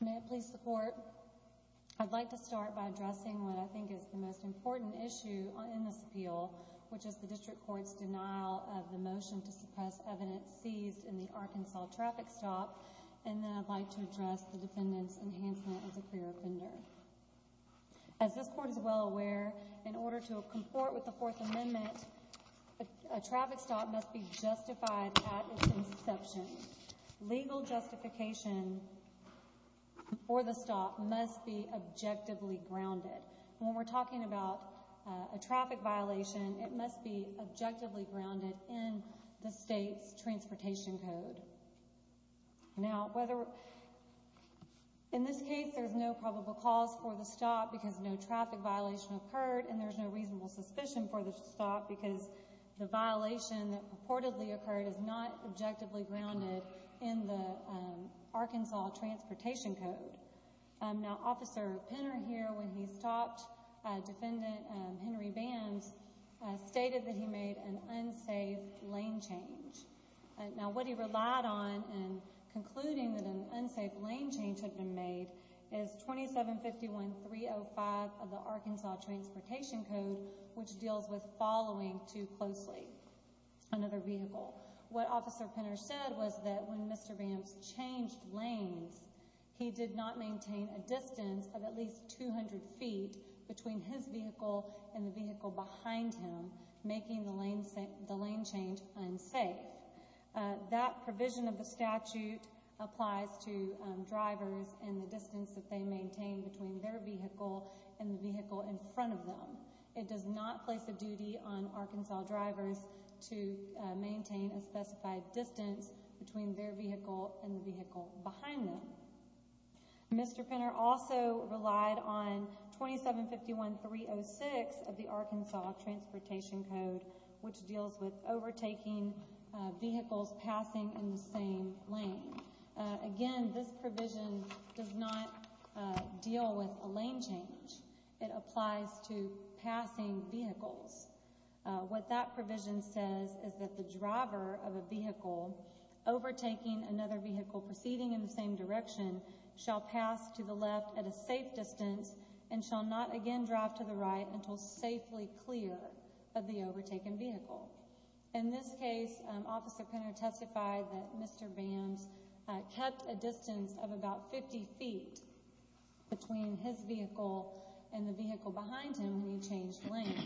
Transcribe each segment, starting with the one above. May it please the Court, I'd like to start by addressing what I think is the most important issue in this appeal, which is the District Court's denial of the motion to suppress evidence seized in the Arkansas traffic stop, and then I'd like to address the defendant's enhancement as a clear offender. As this Court is well aware, in order to comport with the Fourth Amendment, a traffic stop must be justified at its inception. Legal justification for the stop must be objectively grounded. When we're talking about a traffic violation, it must be objectively grounded in the State's transportation code. Now, in this case, there's no probable cause for the stop because no traffic violation occurred, and there's no reasonable suspicion for the stop because the violation that purportedly occurred is not objectively grounded in the Arkansas transportation code. Now, Officer Penner here, when he stopped Defendant Henry Bams, stated that he made an unsafe lane change. Now, what he relied on in concluding that an unsafe lane change had been made is 2751.305 of the Arkansas transportation code, which deals with following too closely another vehicle. What Officer Penner said was that when Mr. Bams changed lanes, he did not maintain a distance of at least 200 feet between his vehicle and the vehicle behind him, making the lane change unsafe. That provision of the statute applies to drivers and the distance that they maintain between their vehicle and the vehicle in front of them. It does not place a duty on Arkansas drivers to maintain a specified distance between their vehicle and the vehicle behind them. Mr. Penner also relied on 2751.306 of the Arkansas transportation code, which deals with overtaking vehicles passing in the same lane. Again, this provision does not deal with a lane change. It applies to passing vehicles. What that provision says is that the driver of a vehicle overtaking another vehicle proceeding in the same direction shall pass to the left at a safe distance and shall not again drive to the right until safely clear of the overtaken vehicle. In this case, Officer Penner testified that Mr. Bams kept a distance of about 50 feet between his vehicle and the vehicle behind him when he changed lanes.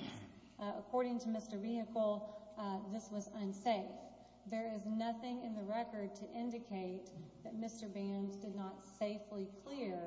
According to Mr. Vehicle, this was unsafe. There is nothing in the record to indicate that Mr. Bams did not safely clear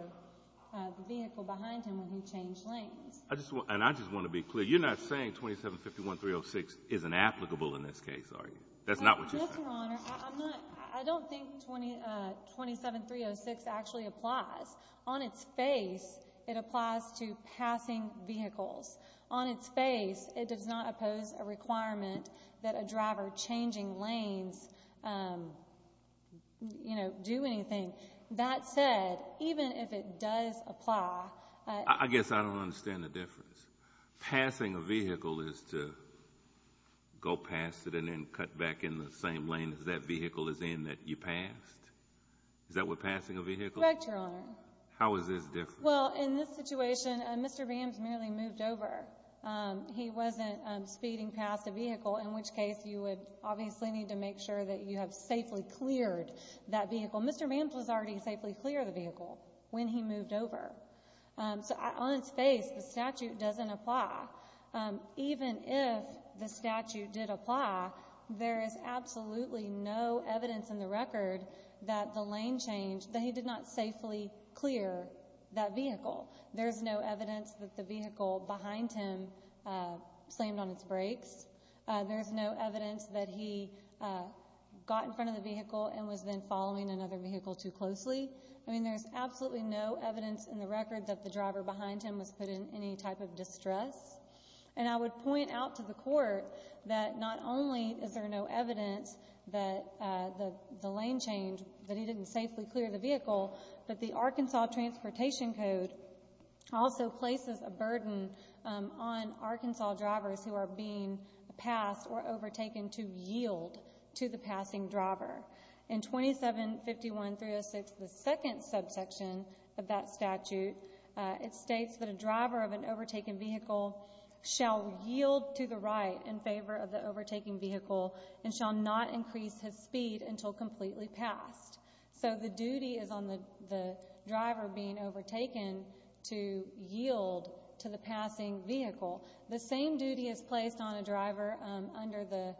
the vehicle behind him when he changed lanes. And I just want to be clear. You're not saying 2751.306 isn't applicable in this case, are you? That's not what you're saying. No, Your Honor. I'm not. I don't think 27306 actually applies. On its face, it applies to passing vehicles. On its face, it does not oppose a requirement that a driver changing lanes, you know, do anything. That said, even if it does apply, I guess I don't understand the difference. Passing a vehicle is to go past it and then cut back in the same lane that that vehicle is in that you passed. Is that what passing a vehicle is? Correct, Your Honor. How is this different? Well, in this situation, Mr. Bams merely moved over. He wasn't speeding past a vehicle, in which case you would obviously need to make sure that you have safely cleared that vehicle. Mr. Bams was already safely clear of the vehicle when he moved over. So on its face, the statute doesn't apply. Even if the statute did apply, there is absolutely no evidence in the record that the lane change that he did not safely clear that vehicle. There's no evidence that the vehicle behind him slammed on its brakes. There's no evidence that he got in front of the vehicle and was then following another vehicle too closely. I mean, there's absolutely no evidence in the record that the driver behind him was put in any type of distress. And I would point out to the court that not only is there no evidence that the lane change that he didn't safely clear the vehicle, but the Arkansas Transportation Code also places a burden on Arkansas drivers who are being passed or overtaken to yield to the passing driver. In 2751-306, the second subsection of that statute, it states that a driver of an overtaken vehicle shall yield to the right in favor of the overtaking vehicle and shall not increase his speed until completely passed. So the duty is on the driver being overtaken to yield to the passing vehicle. The same duty is placed on a driver under the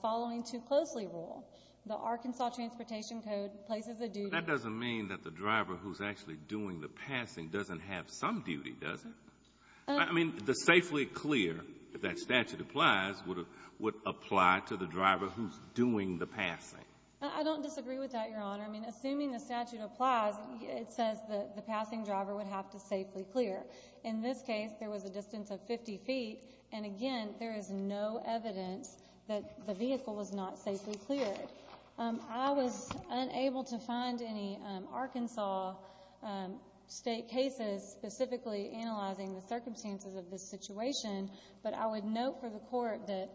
following too closely rule. The Arkansas Transportation Code places a duty. But that doesn't mean that the driver who's actually doing the passing doesn't have some duty, does it? I mean, the safely clear, if that statute applies, would apply to the driver who's doing the passing. I don't disagree with that, Your Honor. I mean, assuming the statute applies, it says that the passing driver would have to safely clear. In this case, there was a distance of 50 feet. And again, there is no evidence that the vehicle was not safely cleared. I was unable to find any Arkansas state cases specifically analyzing the circumstances of this situation. But I would note for the Court that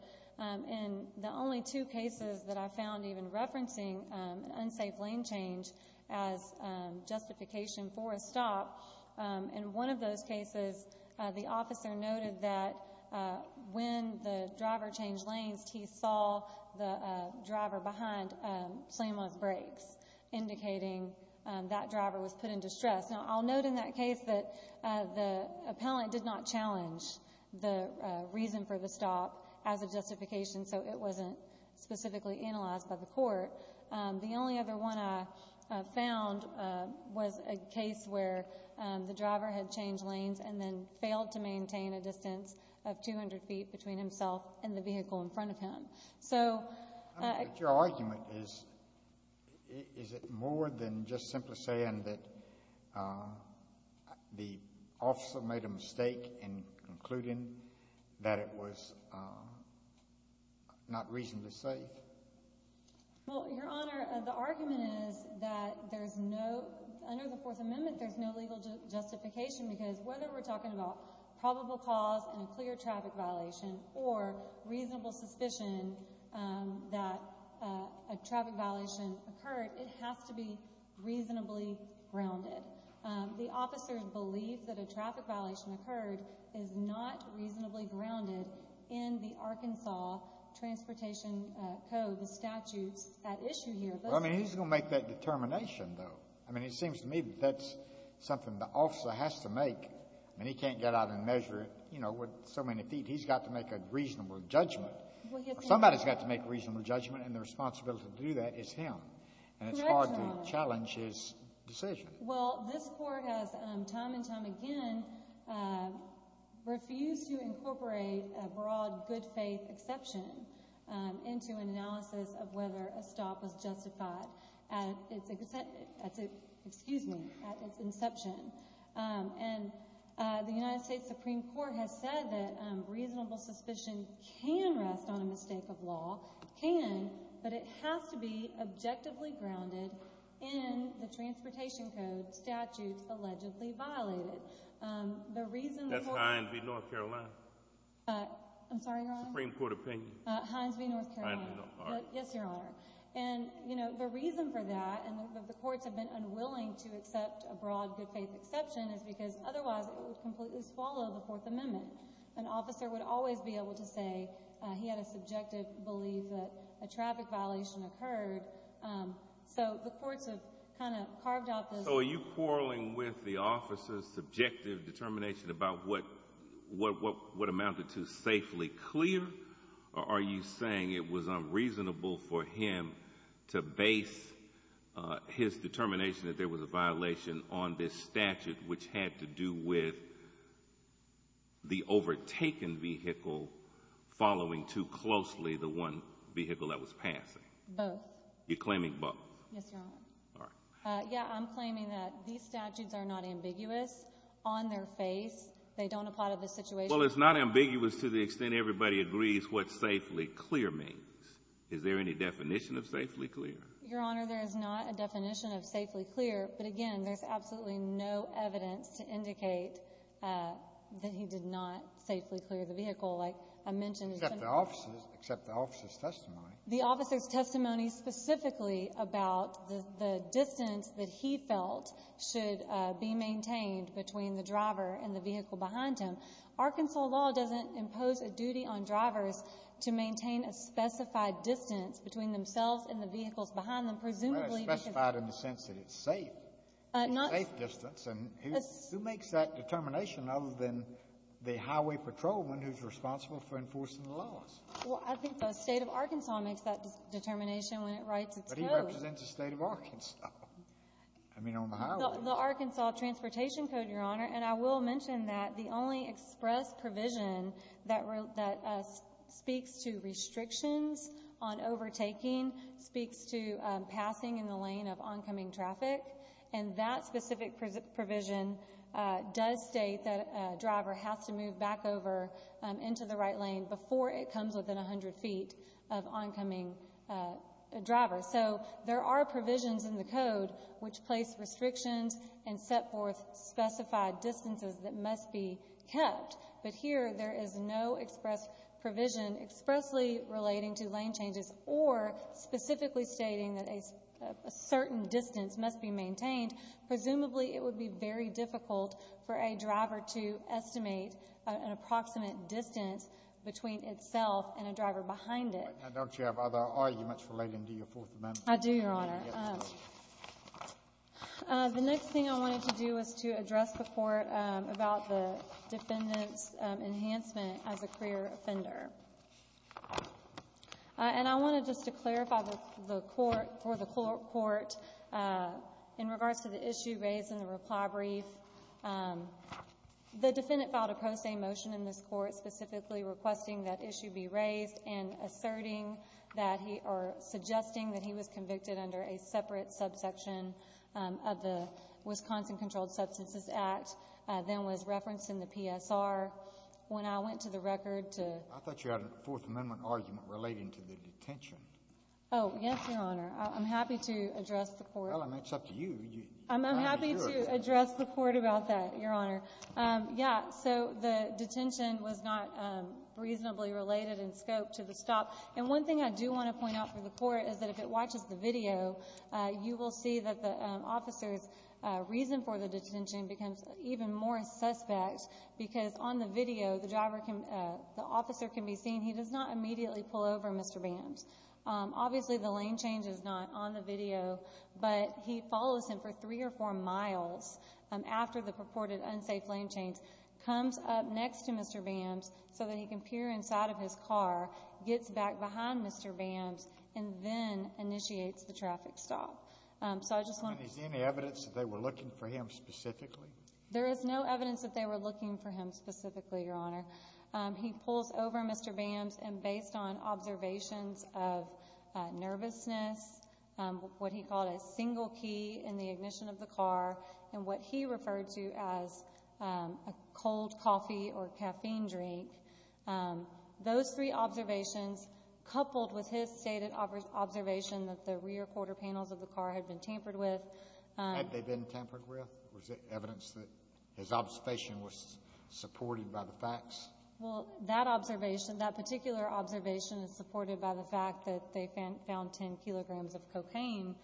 in the only two cases that I found even referencing an unsafe lane change as justification for a stop, in one of those cases, the officer noted that when the driver changed lanes, he saw the driver behind slam on his brakes, indicating that driver was put in distress. Now, I'll note in that case that the appellant did not challenge the reason for the stop as a justification, so it wasn't specifically analyzed by the Court. The only other one I found was a case where the driver had changed lanes and then failed to maintain a distance of 200 feet between himself and the vehicle in front of him. So... But your argument is, is it more than just simply saying that the officer made a mistake in concluding that it was not reasonably safe? Well, Your Honor, the argument is that there's no, under the Fourth Amendment, there's no legal justification because whether we're talking about probable cause and a clear traffic violation or reasonable suspicion that a traffic violation occurred, it has to be reasonably grounded. The officer's belief that a traffic violation occurred is not reasonably grounded in the Arkansas Transportation Code, the statutes at issue here. Well, I mean, he's going to make that determination, though. I mean, it seems to me that that's something the officer has to make, and he can't get out and measure, you know, with so many feet. He's got to make a reasonable judgment. Somebody's got to make a reasonable judgment, and the responsibility to do that is him. Correct, Your Honor. And it's hard to challenge his decision. Well, this Court has, time and time again, refused to incorporate a broad good-faith exception into an analysis of whether a stop was justified at its, excuse me, at its inception. And the United States Supreme Court has said that reasonable suspicion can rest on a mistake of law, can, but it has to be objectively grounded in the Transportation Code statutes allegedly violated. The reason the Court— That's Hines v. North Carolina. I'm sorry, Your Honor? Supreme Court opinion. Hines v. North Carolina. I don't know. Yes, Your Honor. And, you know, the reason for that, and the courts have been unwilling to accept a broad good-faith exception, is because otherwise it would completely swallow the Fourth Amendment. An officer would always be able to say he had a subjective belief that a traffic violation occurred, so the courts have kind of carved out this— So are you quarreling with the officer's subjective determination about what amounted to safely clear, or are you saying it was unreasonable for him to base his determination that there was a violation on this statute which had to do with the overtaken vehicle following too closely the one vehicle that was passing? Both. You're claiming both? Yes, Your Honor. All right. Yeah, I'm claiming that these statutes are not ambiguous on their face. They don't apply to the situation— Well, it's not ambiguous to the extent everybody agrees what safely clear means. Is there any definition of safely clear? Your Honor, there is not a definition of safely clear, but again, there's absolutely no evidence to indicate that he did not safely clear the vehicle, like I mentioned— Except the officer's testimony. The officer's testimony specifically about the distance that he felt should be maintained between the driver and the vehicle behind him. Arkansas law doesn't impose a duty on drivers to maintain a specified distance between themselves and the vehicles behind them, presumably because— Well, it's specified in the sense that it's safe. It's a safe distance, and who makes that determination other than the highway patrolman who's responsible for enforcing the laws? Well, I think the State of Arkansas makes that determination when it writes its code. But he represents the State of Arkansas. I mean, on the highway. The Arkansas Transportation Code, Your Honor, and I will mention that the only express provision that speaks to restrictions on overtaking speaks to passing in the lane of oncoming traffic, and that specific provision does state that a driver has to move back over into the right lane before it comes within 100 feet of oncoming drivers. So, there are provisions in the code which place restrictions and set forth specified distances that must be kept. But here, there is no express provision expressly relating to lane changes or specifically stating that a certain distance must be maintained. Presumably, it would be very difficult for a driver to estimate an approximate distance between itself and a driver behind it. Right now, Doctor, do you have other arguments relating to your Fourth Amendment? I do, Your Honor. The next thing I wanted to do was to address the Court about the defendant's enhancement as a career offender. And I wanted just to clarify for the Court, in regards to the issue raised in the reply brief, the defendant filed a pro se motion in this Court specifically requesting that a separate subsection of the Wisconsin Controlled Substances Act then was referenced in the PSR. When I went to the record to— I thought you had a Fourth Amendment argument relating to the detention. Oh, yes, Your Honor. I'm happy to address the Court. Well, I mean, it's up to you. I'm happy to address the Court about that, Your Honor. Yeah, so the detention was not reasonably related in scope to the stop. And one thing I do want to point out for the Court is that if it watches the video, you will see that the officer's reason for the detention becomes even more suspect because on the video, the officer can be seen. He does not immediately pull over, Mr. Bams. Obviously, the lane change is not on the video, but he follows him for three or four miles after the purported unsafe lane change, comes up next to Mr. Bams so that he can peer inside of his car, gets back behind Mr. Bams, and then initiates the traffic stop. Is there any evidence that they were looking for him specifically? There is no evidence that they were looking for him specifically, Your Honor. He pulls over, Mr. Bams, and based on observations of nervousness, what he called a single key in the ignition of the car, and what he referred to as a cold coffee or caffeine drink, those three observations coupled with his stated observation that the rear quarter panels of the car had been tampered with. Had they been tampered with? Was there evidence that his observation was supported by the facts? Well, that observation, that particular observation is supported by the fact that they found 10 kilograms of cocaine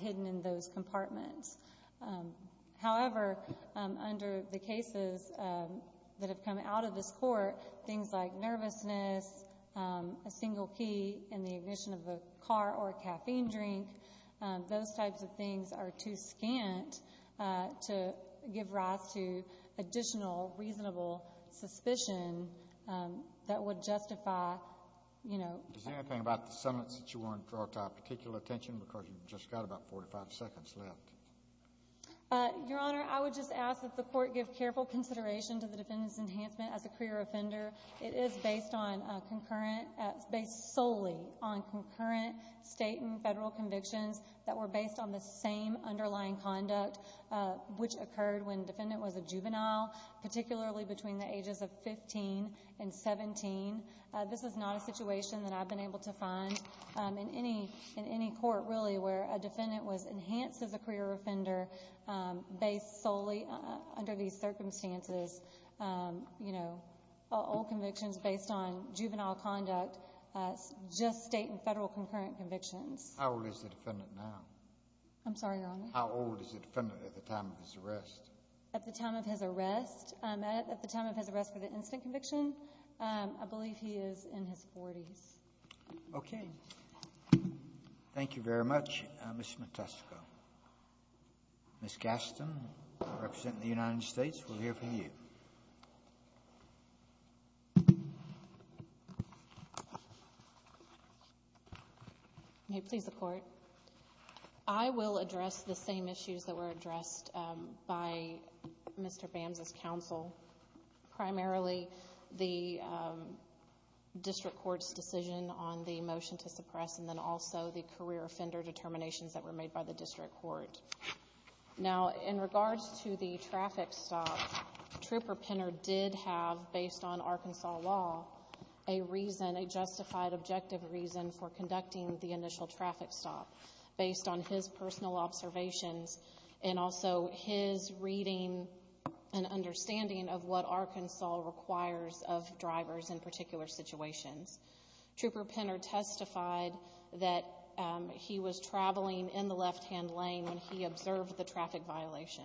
hidden in those compartments. However, under the cases that have come out of this court, things like nervousness, a single key in the ignition of a car or a caffeine drink, those types of things are too scant to give rise to additional reasonable suspicion that would justify, you know... Is there anything about the summons that you want to draw to our particular attention, because you've just got about 45 seconds left? Your Honor, I would just ask that the court give careful consideration to the defendant's enhancement as a career offender. It is based solely on concurrent state and federal convictions that were based on the same underlying conduct, which occurred when the defendant was a juvenile, particularly between the ages of 15 and 17. This is not a situation that I've been able to find in any court, really, where a defendant was enhanced as a career offender based solely under these circumstances. You know, old convictions based on juvenile conduct, just state and federal concurrent convictions. How old is the defendant now? I'm sorry, Your Honor? How old is the defendant at the time of his arrest? At the time of his arrest? At the time of his arrest for the instant conviction, I believe he is in his 40s. Okay. Thank you very much, Ms. Montesquieu. Ms. Gaston, representing the United States, we'll hear from you. May it please the Court. I will address the same issues that were addressed by Mr. Bams's counsel, primarily the district court's decision on the motion to suppress and then also the career offender determinations that were made by the district court. Now, in regards to the traffic stop, Trooper Penner did have, based on Arkansas law, a reason, a justified objective reason for conducting the initial traffic stop, based on his personal observations and also his reading and understanding of what Arkansas requires of drivers in particular situations. Trooper Penner testified that he was traveling in the left-hand lane when he observed the traffic violation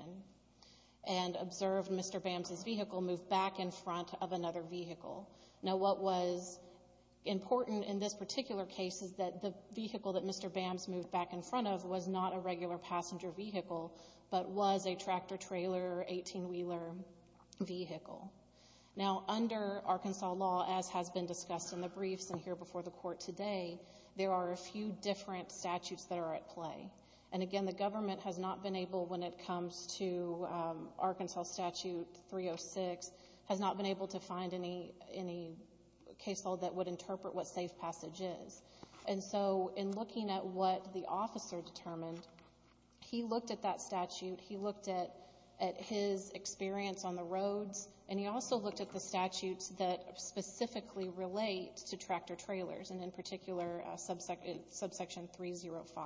and observed Mr. Bams's vehicle move back in front of another vehicle. Now, what was important in this particular case is that the vehicle that Mr. Bams moved back in front of was not a regular passenger vehicle but was a tractor-trailer, 18-wheeler vehicle. Now, under Arkansas law, as has been discussed in the briefs and here before the Court today, there are a few different statutes that are at play. And again, the government has not been able, when it comes to Arkansas statute 306, has not been able to find any case law that would interpret what safe passage is. And so in looking at what the officer determined, he looked at that statute, he looked at his experience on the roads, and he also looked at the statutes that specifically relate to tractor-trailers, and in particular subsection 305.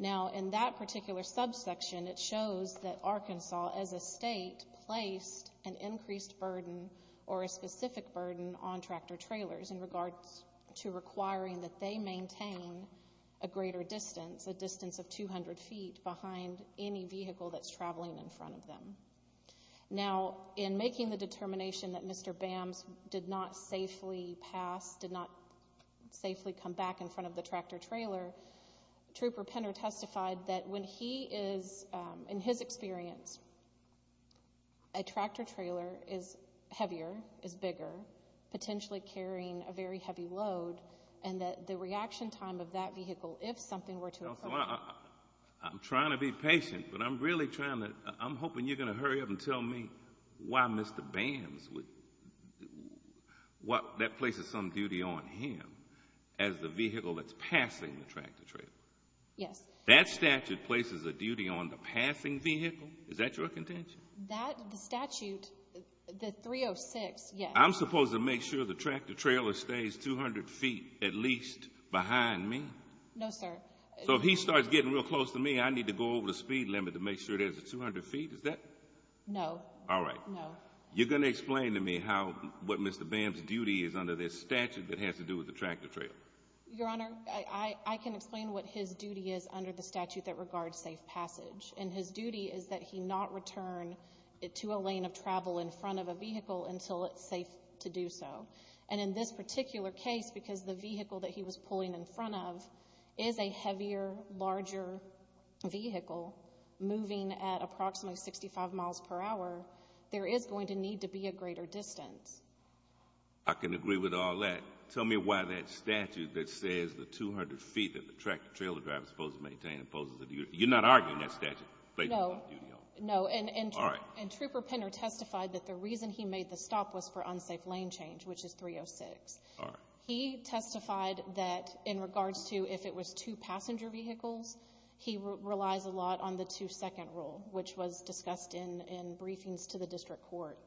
Now, in that particular subsection, it shows that Arkansas as a state placed an increased burden or a specific burden on tractor-trailers in regards to requiring that they maintain a greater distance, a distance of 200 feet behind any vehicle that's traveling in front of them. Now, in making the determination that Mr. Bams did not safely pass, did not safely come back in front of the tractor-trailer, Trooper Penner testified that when he is, in his experience, a tractor-trailer is heavier, is bigger, potentially carrying a very heavy load, and that the reaction time of that vehicle, if something were to occur. So I'm trying to be patient, but I'm really trying to, I'm hoping you're going to hurry up and tell me why Mr. Bams would, that places some duty on him as the vehicle that's passing the tractor-trailer. Yes. That statute places a duty on the passing vehicle? Is that your contention? That statute, the 306, yes. I'm supposed to make sure the tractor-trailer stays 200 feet at least behind me? No, sir. So if he starts getting real close to me, I need to go over the speed limit to make sure there's a 200 feet? Is that? No. All right. No. You're going to explain to me how, what Mr. Bams' duty is under this statute that has to do with the tractor-trailer. Your Honor, I can explain what his duty is under the statute that regards safe passage. And his duty is that he not return to a lane of travel in front of a vehicle until it's safe to do so. And in this particular case, because the vehicle that he was pulling in front of is a heavier, larger vehicle moving at approximately 65 miles per hour, there is going to need to be a greater distance. I can agree with all that. Tell me why that statute that says the 200 feet that the tractor-trailer driver is supposed to maintain opposes the duty. You're not arguing that statute? No. No. All right. And Trooper Penner testified that the reason he made the stop was for unsafe lane change, which is 306. All right. He testified that in regards to if it was two passenger vehicles, he relies a lot on the two-second rule, which was discussed in briefings to the district court.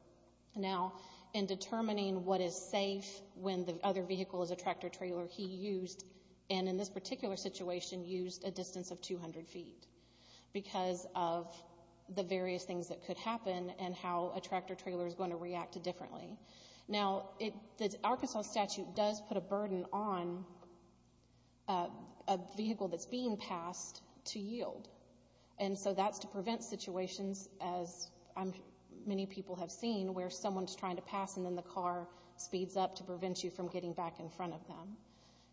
Now, in determining what is safe when the other vehicle is a tractor-trailer, he used, and in this particular situation, used a distance of 200 feet because of the various things that could happen and how a tractor-trailer is going to react differently. Now, the Arkansas statute does put a burden on a vehicle that's being passed to yield, and so that's to prevent situations, as many people have seen, where someone's trying to pass and then the car speeds up to prevent you from getting back in front of them.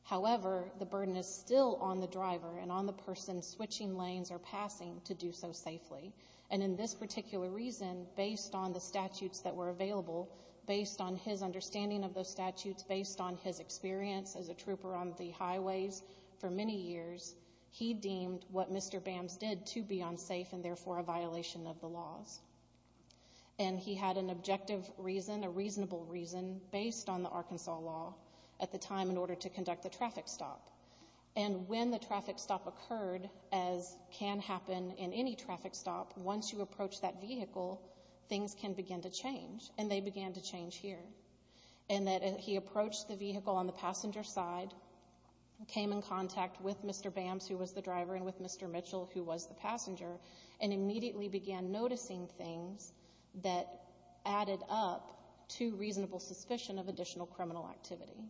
However, the burden is still on the driver and on the person switching lanes or passing to do so safely. And in this particular reason, based on the statutes that were available, based on his understanding of those statutes, based on his experience as a trooper on the highways for many years, he deemed what Mr. Bams did to be unsafe and therefore a violation of the laws. And he had an objective reason, a reasonable reason, based on the Arkansas law at the time in order to conduct the traffic stop. And when the traffic stop occurred, as can happen in any traffic stop, once you approach that vehicle, things can begin to change, and they began to change here, in that he approached the vehicle on the passenger side, came in contact with Mr. Bams, who was the driver, and with Mr. Mitchell, who was the passenger, and immediately began noticing things that added up to reasonable suspicion of additional criminal activity.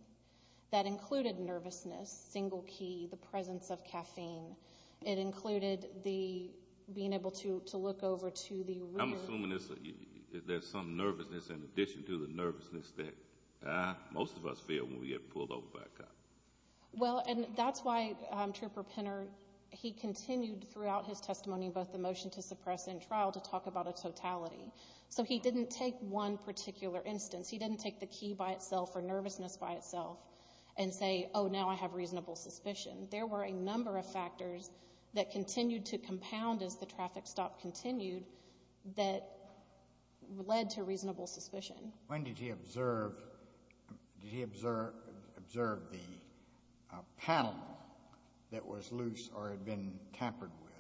That included nervousness, single key, the presence of caffeine. It included being able to look over to the rear. I'm assuming there's some nervousness in addition to the nervousness that most of us feel when we get pulled over by a cop. Well, and that's why Trooper Penner, he continued throughout his testimony, both the motion to suppress and trial, to talk about a totality. So he didn't take one particular instance. He didn't take the key by itself or nervousness by itself and say, oh, now I have reasonable suspicion. There were a number of factors that continued to compound as the traffic stop continued that led to reasonable suspicion. When did he observe the panel that was loose or had been tampered with?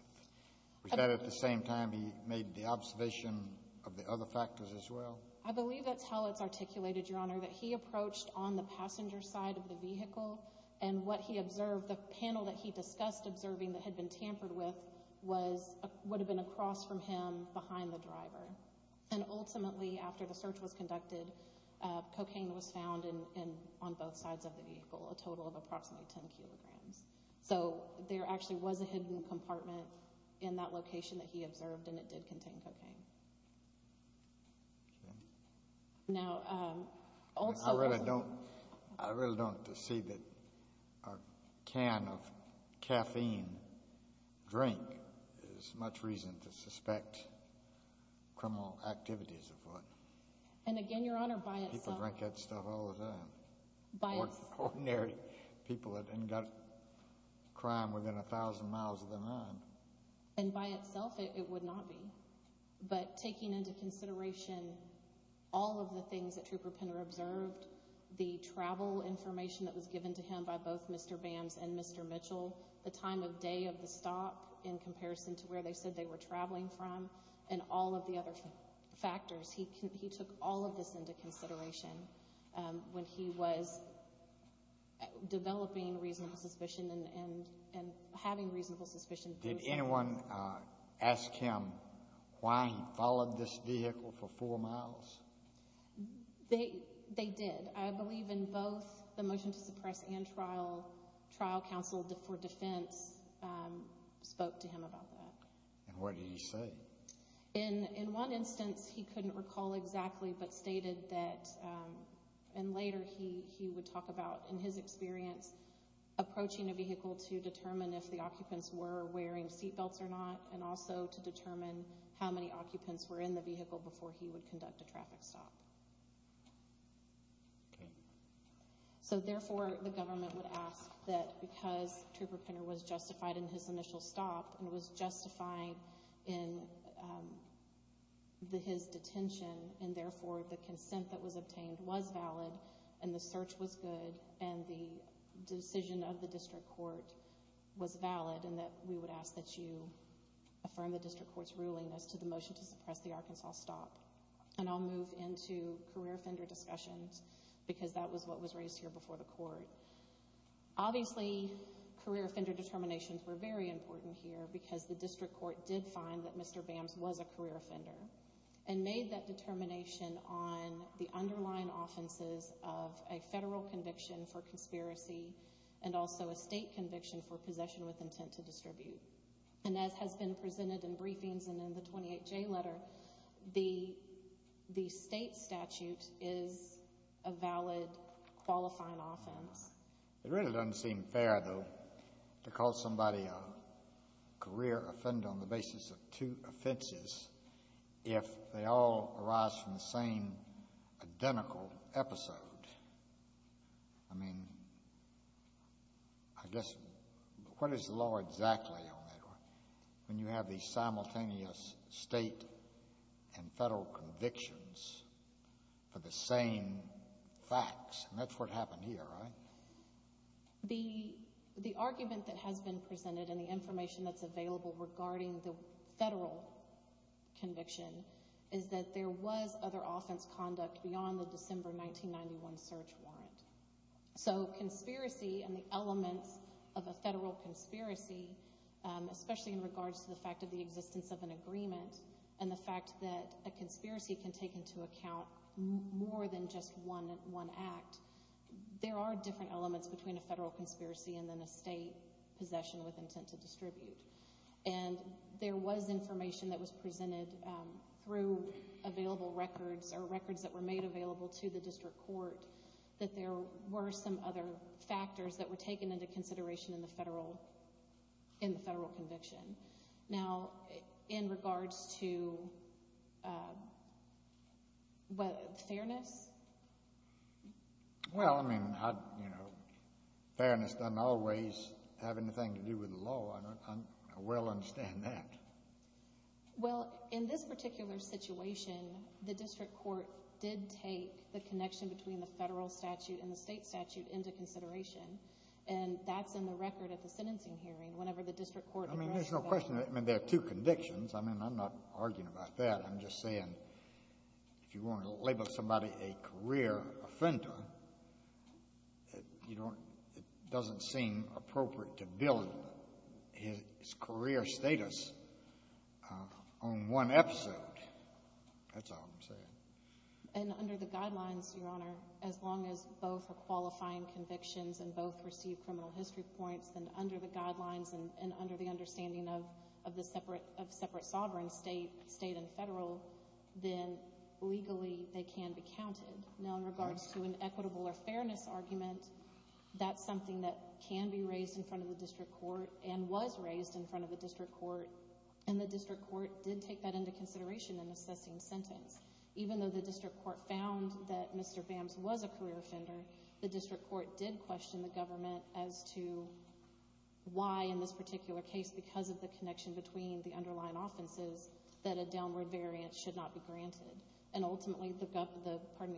Was that at the same time he made the observation of the other factors as well? I believe that's how it's articulated, Your Honor, that he approached on the passenger side of the vehicle, and what he observed, the panel that he discussed observing that had been tampered with, would have been across from him behind the driver. And ultimately, after the search was conducted, cocaine was found on both sides of the vehicle, a total of approximately 10 kilograms. So there actually was a hidden compartment in that location that he observed, and it did contain cocaine. Okay. Now, also- I really don't see that a can of caffeine drink is much reason to suspect criminal activities of what- And again, Your Honor, by itself- People drink that stuff all the time. Ordinary people that haven't got crime within a thousand miles of their mind. And by itself, it would not be. But taking into consideration all of the things that Trooper Penner observed, the travel information that was given to him by both Mr. Bambs and Mr. Mitchell, the time of day of the stop in comparison to where they said they were traveling from, and all of the other factors, he took all of this into consideration when he was developing reasonable suspicion and having reasonable suspicion. Did anyone ask him why he followed this vehicle for four miles? They did. I believe in both the motion to suppress and trial, trial counsel for defense spoke to him about that. And what did he say? In one instance, he couldn't recall exactly, but stated that- and later he would talk about, in his experience, approaching a vehicle to determine if the occupants were wearing seatbelts or not and also to determine how many occupants were in the vehicle before he would conduct a traffic stop. So therefore, the government would ask that because Trooper Penner was justified in his initial stop and was justified in his detention, and therefore the consent that was obtained was valid and the search was good and the decision of the district court was valid and that we would ask that you affirm the district court's ruling as to the motion to suppress the Arkansas stop. And I'll move into career offender discussions because that was what was raised here before the court. Obviously, career offender determinations were very important here because the district court did find that Mr. Bambs was a career offender and made that determination on the underlying offenses of a federal conviction for conspiracy and also a state conviction for possession with intent to distribute. And as has been presented in briefings and in the 28J letter, the state statute is a valid qualifying offense. It really doesn't seem fair, though, to call somebody a career offender on the basis of two offenses if they all arise from the same identical episode. I mean, I guess what is the law exactly on that one when you have these simultaneous state and federal convictions for the same facts? And that's what happened here, right? The argument that has been presented and the information that's available regarding the federal conviction is that there was other offense conduct beyond the December 1991 search warrant. So conspiracy and the elements of a federal conspiracy, especially in regards to the fact of the existence of an agreement and the fact that a conspiracy can take into account more than just one act, there are different elements between a federal conspiracy and then a state possession with intent to distribute. And there was information that was presented through available records or records that were made available to the district court that there were some other factors that were taken into consideration in the federal conviction. Now, in regards to fairness? Well, I mean, you know, fairness doesn't always have anything to do with the law. I well understand that. Well, in this particular situation, the district court did take the connection between the federal statute and the state statute into consideration, and that's in the record at the sentencing hearing whenever the district court addressed that. I mean, there's no question. I mean, there are two convictions. I mean, I'm not arguing about that. I'm just saying if you want to label somebody a career offender, it doesn't seem appropriate to build his career status on one episode. That's all I'm saying. And under the guidelines, Your Honor, as long as both are qualifying convictions and both receive criminal history points, then under the guidelines and under the understanding of the separate sovereign state and federal, then legally they can be counted. Now, in regards to an equitable or fairness argument, that's something that can be raised in front of the district court and was raised in front of the district court, and the district court did take that into consideration in assessing sentence. Even though the district court found that Mr. Bams was a career offender, the district court did question the government as to why in this particular case, because of the connection between the underlying offenses, that a downward variance should not be granted. And ultimately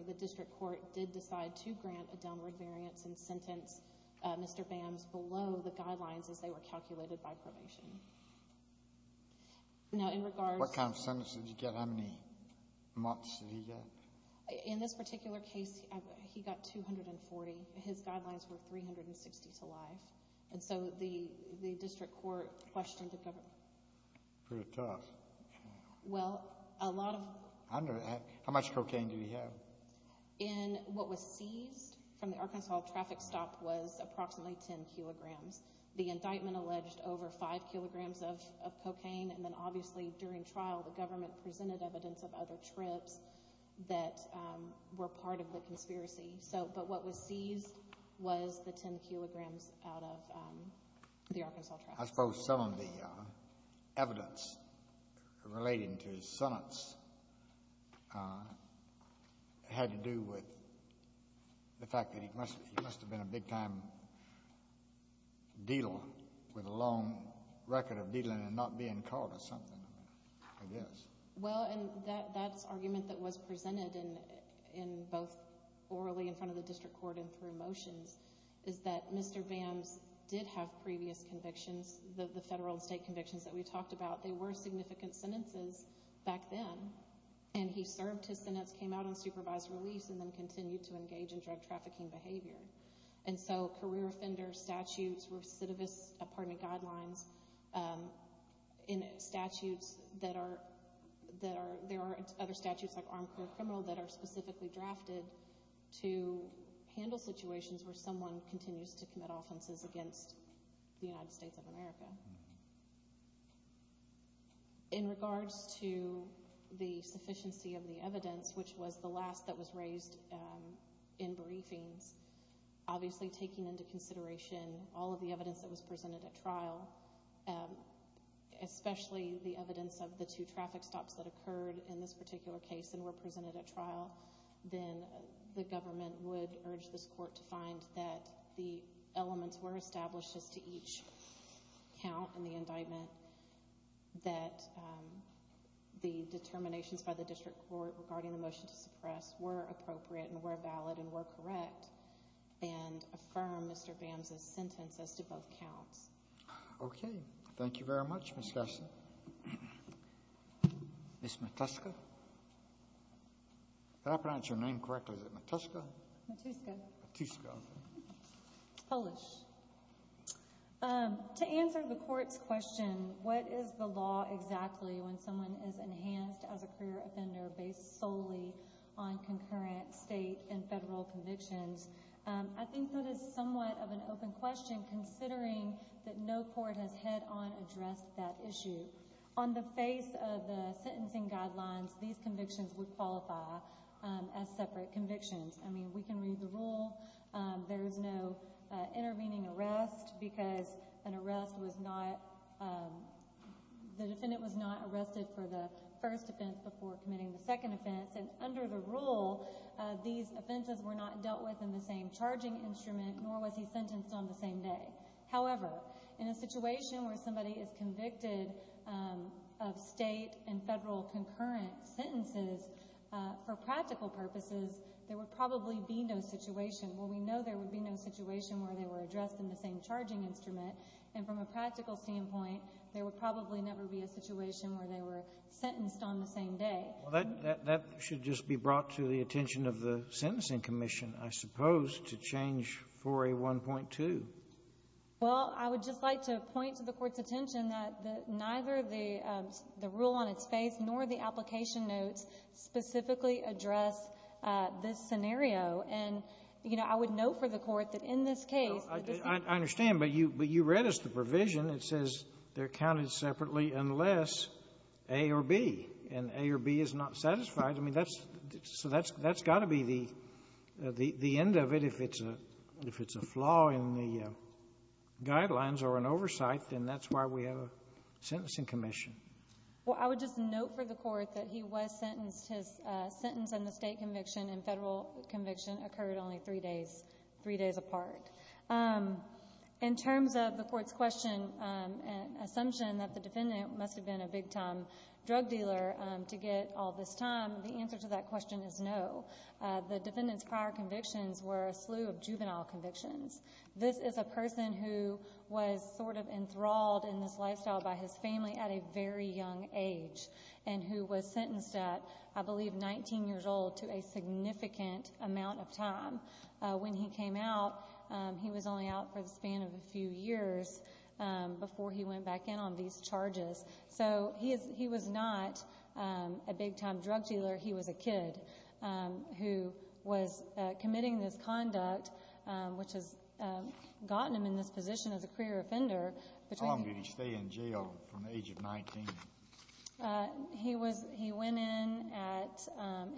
the district court did decide to grant a downward variance and sentence Mr. Bams below the guidelines as they were calculated by probation. Now, in regards— What kind of sentences did he get? How many months did he get? In this particular case, he got 240. His guidelines were 360 to life. And so the district court questioned the government. Pretty tough. Well, a lot of— How much cocaine did he have? In what was seized from the Arkansas traffic stop was approximately 10 kilograms. The indictment alleged over 5 kilograms of cocaine, and then obviously during trial the government presented evidence of other trips that were part of the conspiracy. But what was seized was the 10 kilograms out of the Arkansas traffic stop. I suppose some of the evidence relating to his sentence had to do with the fact that he must have been a big-time dealer with a long record of dealing and not being caught or something like this. Well, and that's argument that was presented in both orally in front of the district court and through motions is that Mr. Vance did have previous convictions, the federal and state convictions that we talked about. They were significant sentences back then. And he served his sentence, came out on supervised release, and then continued to engage in drug trafficking behavior. And so career offender statutes, recidivist guidelines, and statutes that are— are critical situations where someone continues to commit offenses against the United States of America. In regards to the sufficiency of the evidence, which was the last that was raised in briefings, obviously taking into consideration all of the evidence that was presented at trial, especially the evidence of the two traffic stops that occurred in this particular case and were presented at trial, then the government would urge this court to find that the elements were established as to each count in the indictment, that the determinations by the district court regarding the motion to suppress were appropriate and were valid and were correct, and affirm Mr. Bams's sentence as to both counts. Okay. Thank you very much, Ms. Gasson. Ms. Matuska? Did I pronounce your name correctly? Is it Matuska? Matuska. Matuska. It's Polish. To answer the court's question, what is the law exactly when someone is enhanced as a career offender based solely on concurrent state and federal convictions, I think that is somewhat of an open question considering that no court has head-on addressed that issue. On the face of the sentencing guidelines, these convictions would qualify as separate convictions. I mean, we can read the rule. There is no intervening arrest because an arrest was not, the defendant was not arrested for the first offense before committing the second offense, and under the rule, these offenses were not dealt with in the same charging instrument nor was he sentenced on the same day. However, in a situation where somebody is convicted of state and federal concurrent sentences, for practical purposes, there would probably be no situation. Well, we know there would be no situation where they were addressed in the same charging instrument, and from a practical standpoint, there would probably never be a situation where they were sentenced on the same day. Well, that should just be brought to the attention of the Sentencing Commission, I suppose, to change 4A.1.2. Well, I would just like to point to the Court's attention that neither the rule on its face nor the application notes specifically address this scenario. And, you know, I would note for the Court that in this case, the decision of the court to do so is not satisfied. I understand, but you read us the provision. It says they're counted separately unless A or B, and A or B is not satisfied. I mean, that's so that's got to be the end of it. If it's a flaw in the guidelines or in oversight, then that's why we have a Sentencing Commission. Well, I would just note for the Court that he was sentenced. His sentence in the state conviction and federal conviction occurred only three days, three days apart. In terms of the Court's question and assumption that the defendant must have been a big-time drug dealer to get all this time, the answer to that question is no. The defendant's prior convictions were a slew of juvenile convictions. This is a person who was sort of enthralled in this lifestyle by his family at a very young age and who was sentenced at, I believe, 19 years old to a significant amount of time. When he came out, he was only out for the span of a few years before he went back in on these charges. So he was not a big-time drug dealer. He was a kid who was committing this conduct, which has gotten him in this position as a career offender. How long did he stay in jail from the age of 19? He went in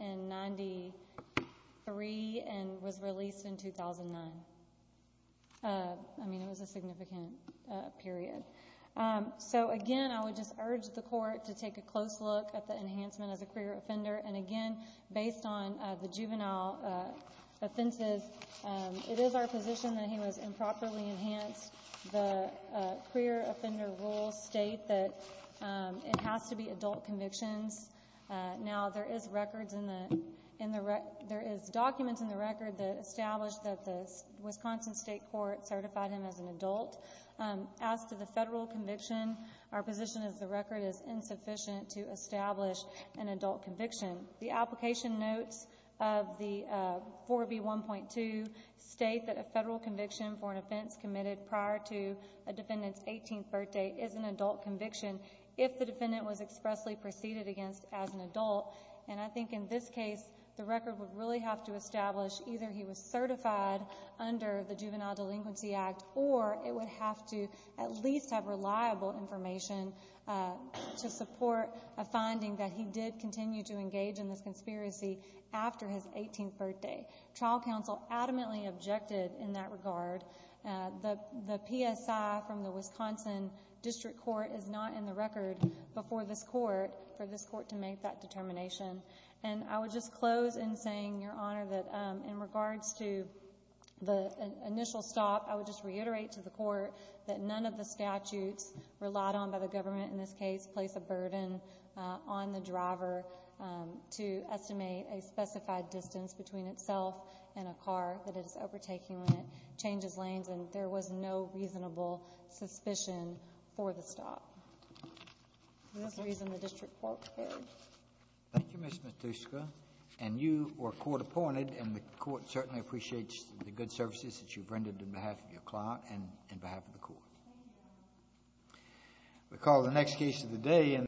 in 93 and was released in 2009. I mean, it was a significant period. So, again, I would just urge the Court to take a close look at the enhancement as a career offender. And, again, based on the juvenile offenses, it is our position that he was improperly enhanced. The career offender rules state that it has to be adult convictions. Now there is documents in the record that establish that the Wisconsin State Court certified him as an adult. As to the federal conviction, our position is the record is insufficient to establish an adult conviction. The application notes of the 4B1.2 state that a federal conviction for an offense committed prior to a defendant's 18th birthday is an adult conviction if the defendant was expressly preceded against as an adult. And I think in this case, the record would really have to establish either he was certified under the Juvenile Delinquency Act or it would have to at least have reliable information to support a finding that he did continue to engage in this conspiracy after his 18th birthday. Trial counsel adamantly objected in that regard. The PSI from the Wisconsin District Court is not in the record before this Court for this Court to make that determination. And I would just close in saying, Your Honor, that in regards to the initial stop, I would just reiterate to the Court that none of the statutes relied on by the government in this case place a burden on the driver to estimate a specified distance between itself and a car that it is overtaking when it changes lanes and there was no reasonable suspicion for the stop. That's the reason the District Court prepared. Thank you, Ms. Matuska. And you are court-appointed and the Court certainly appreciates the good services that you've rendered on behalf of your client and on behalf of the Court. Thank you, Your Honor. We'll call the next case of the day.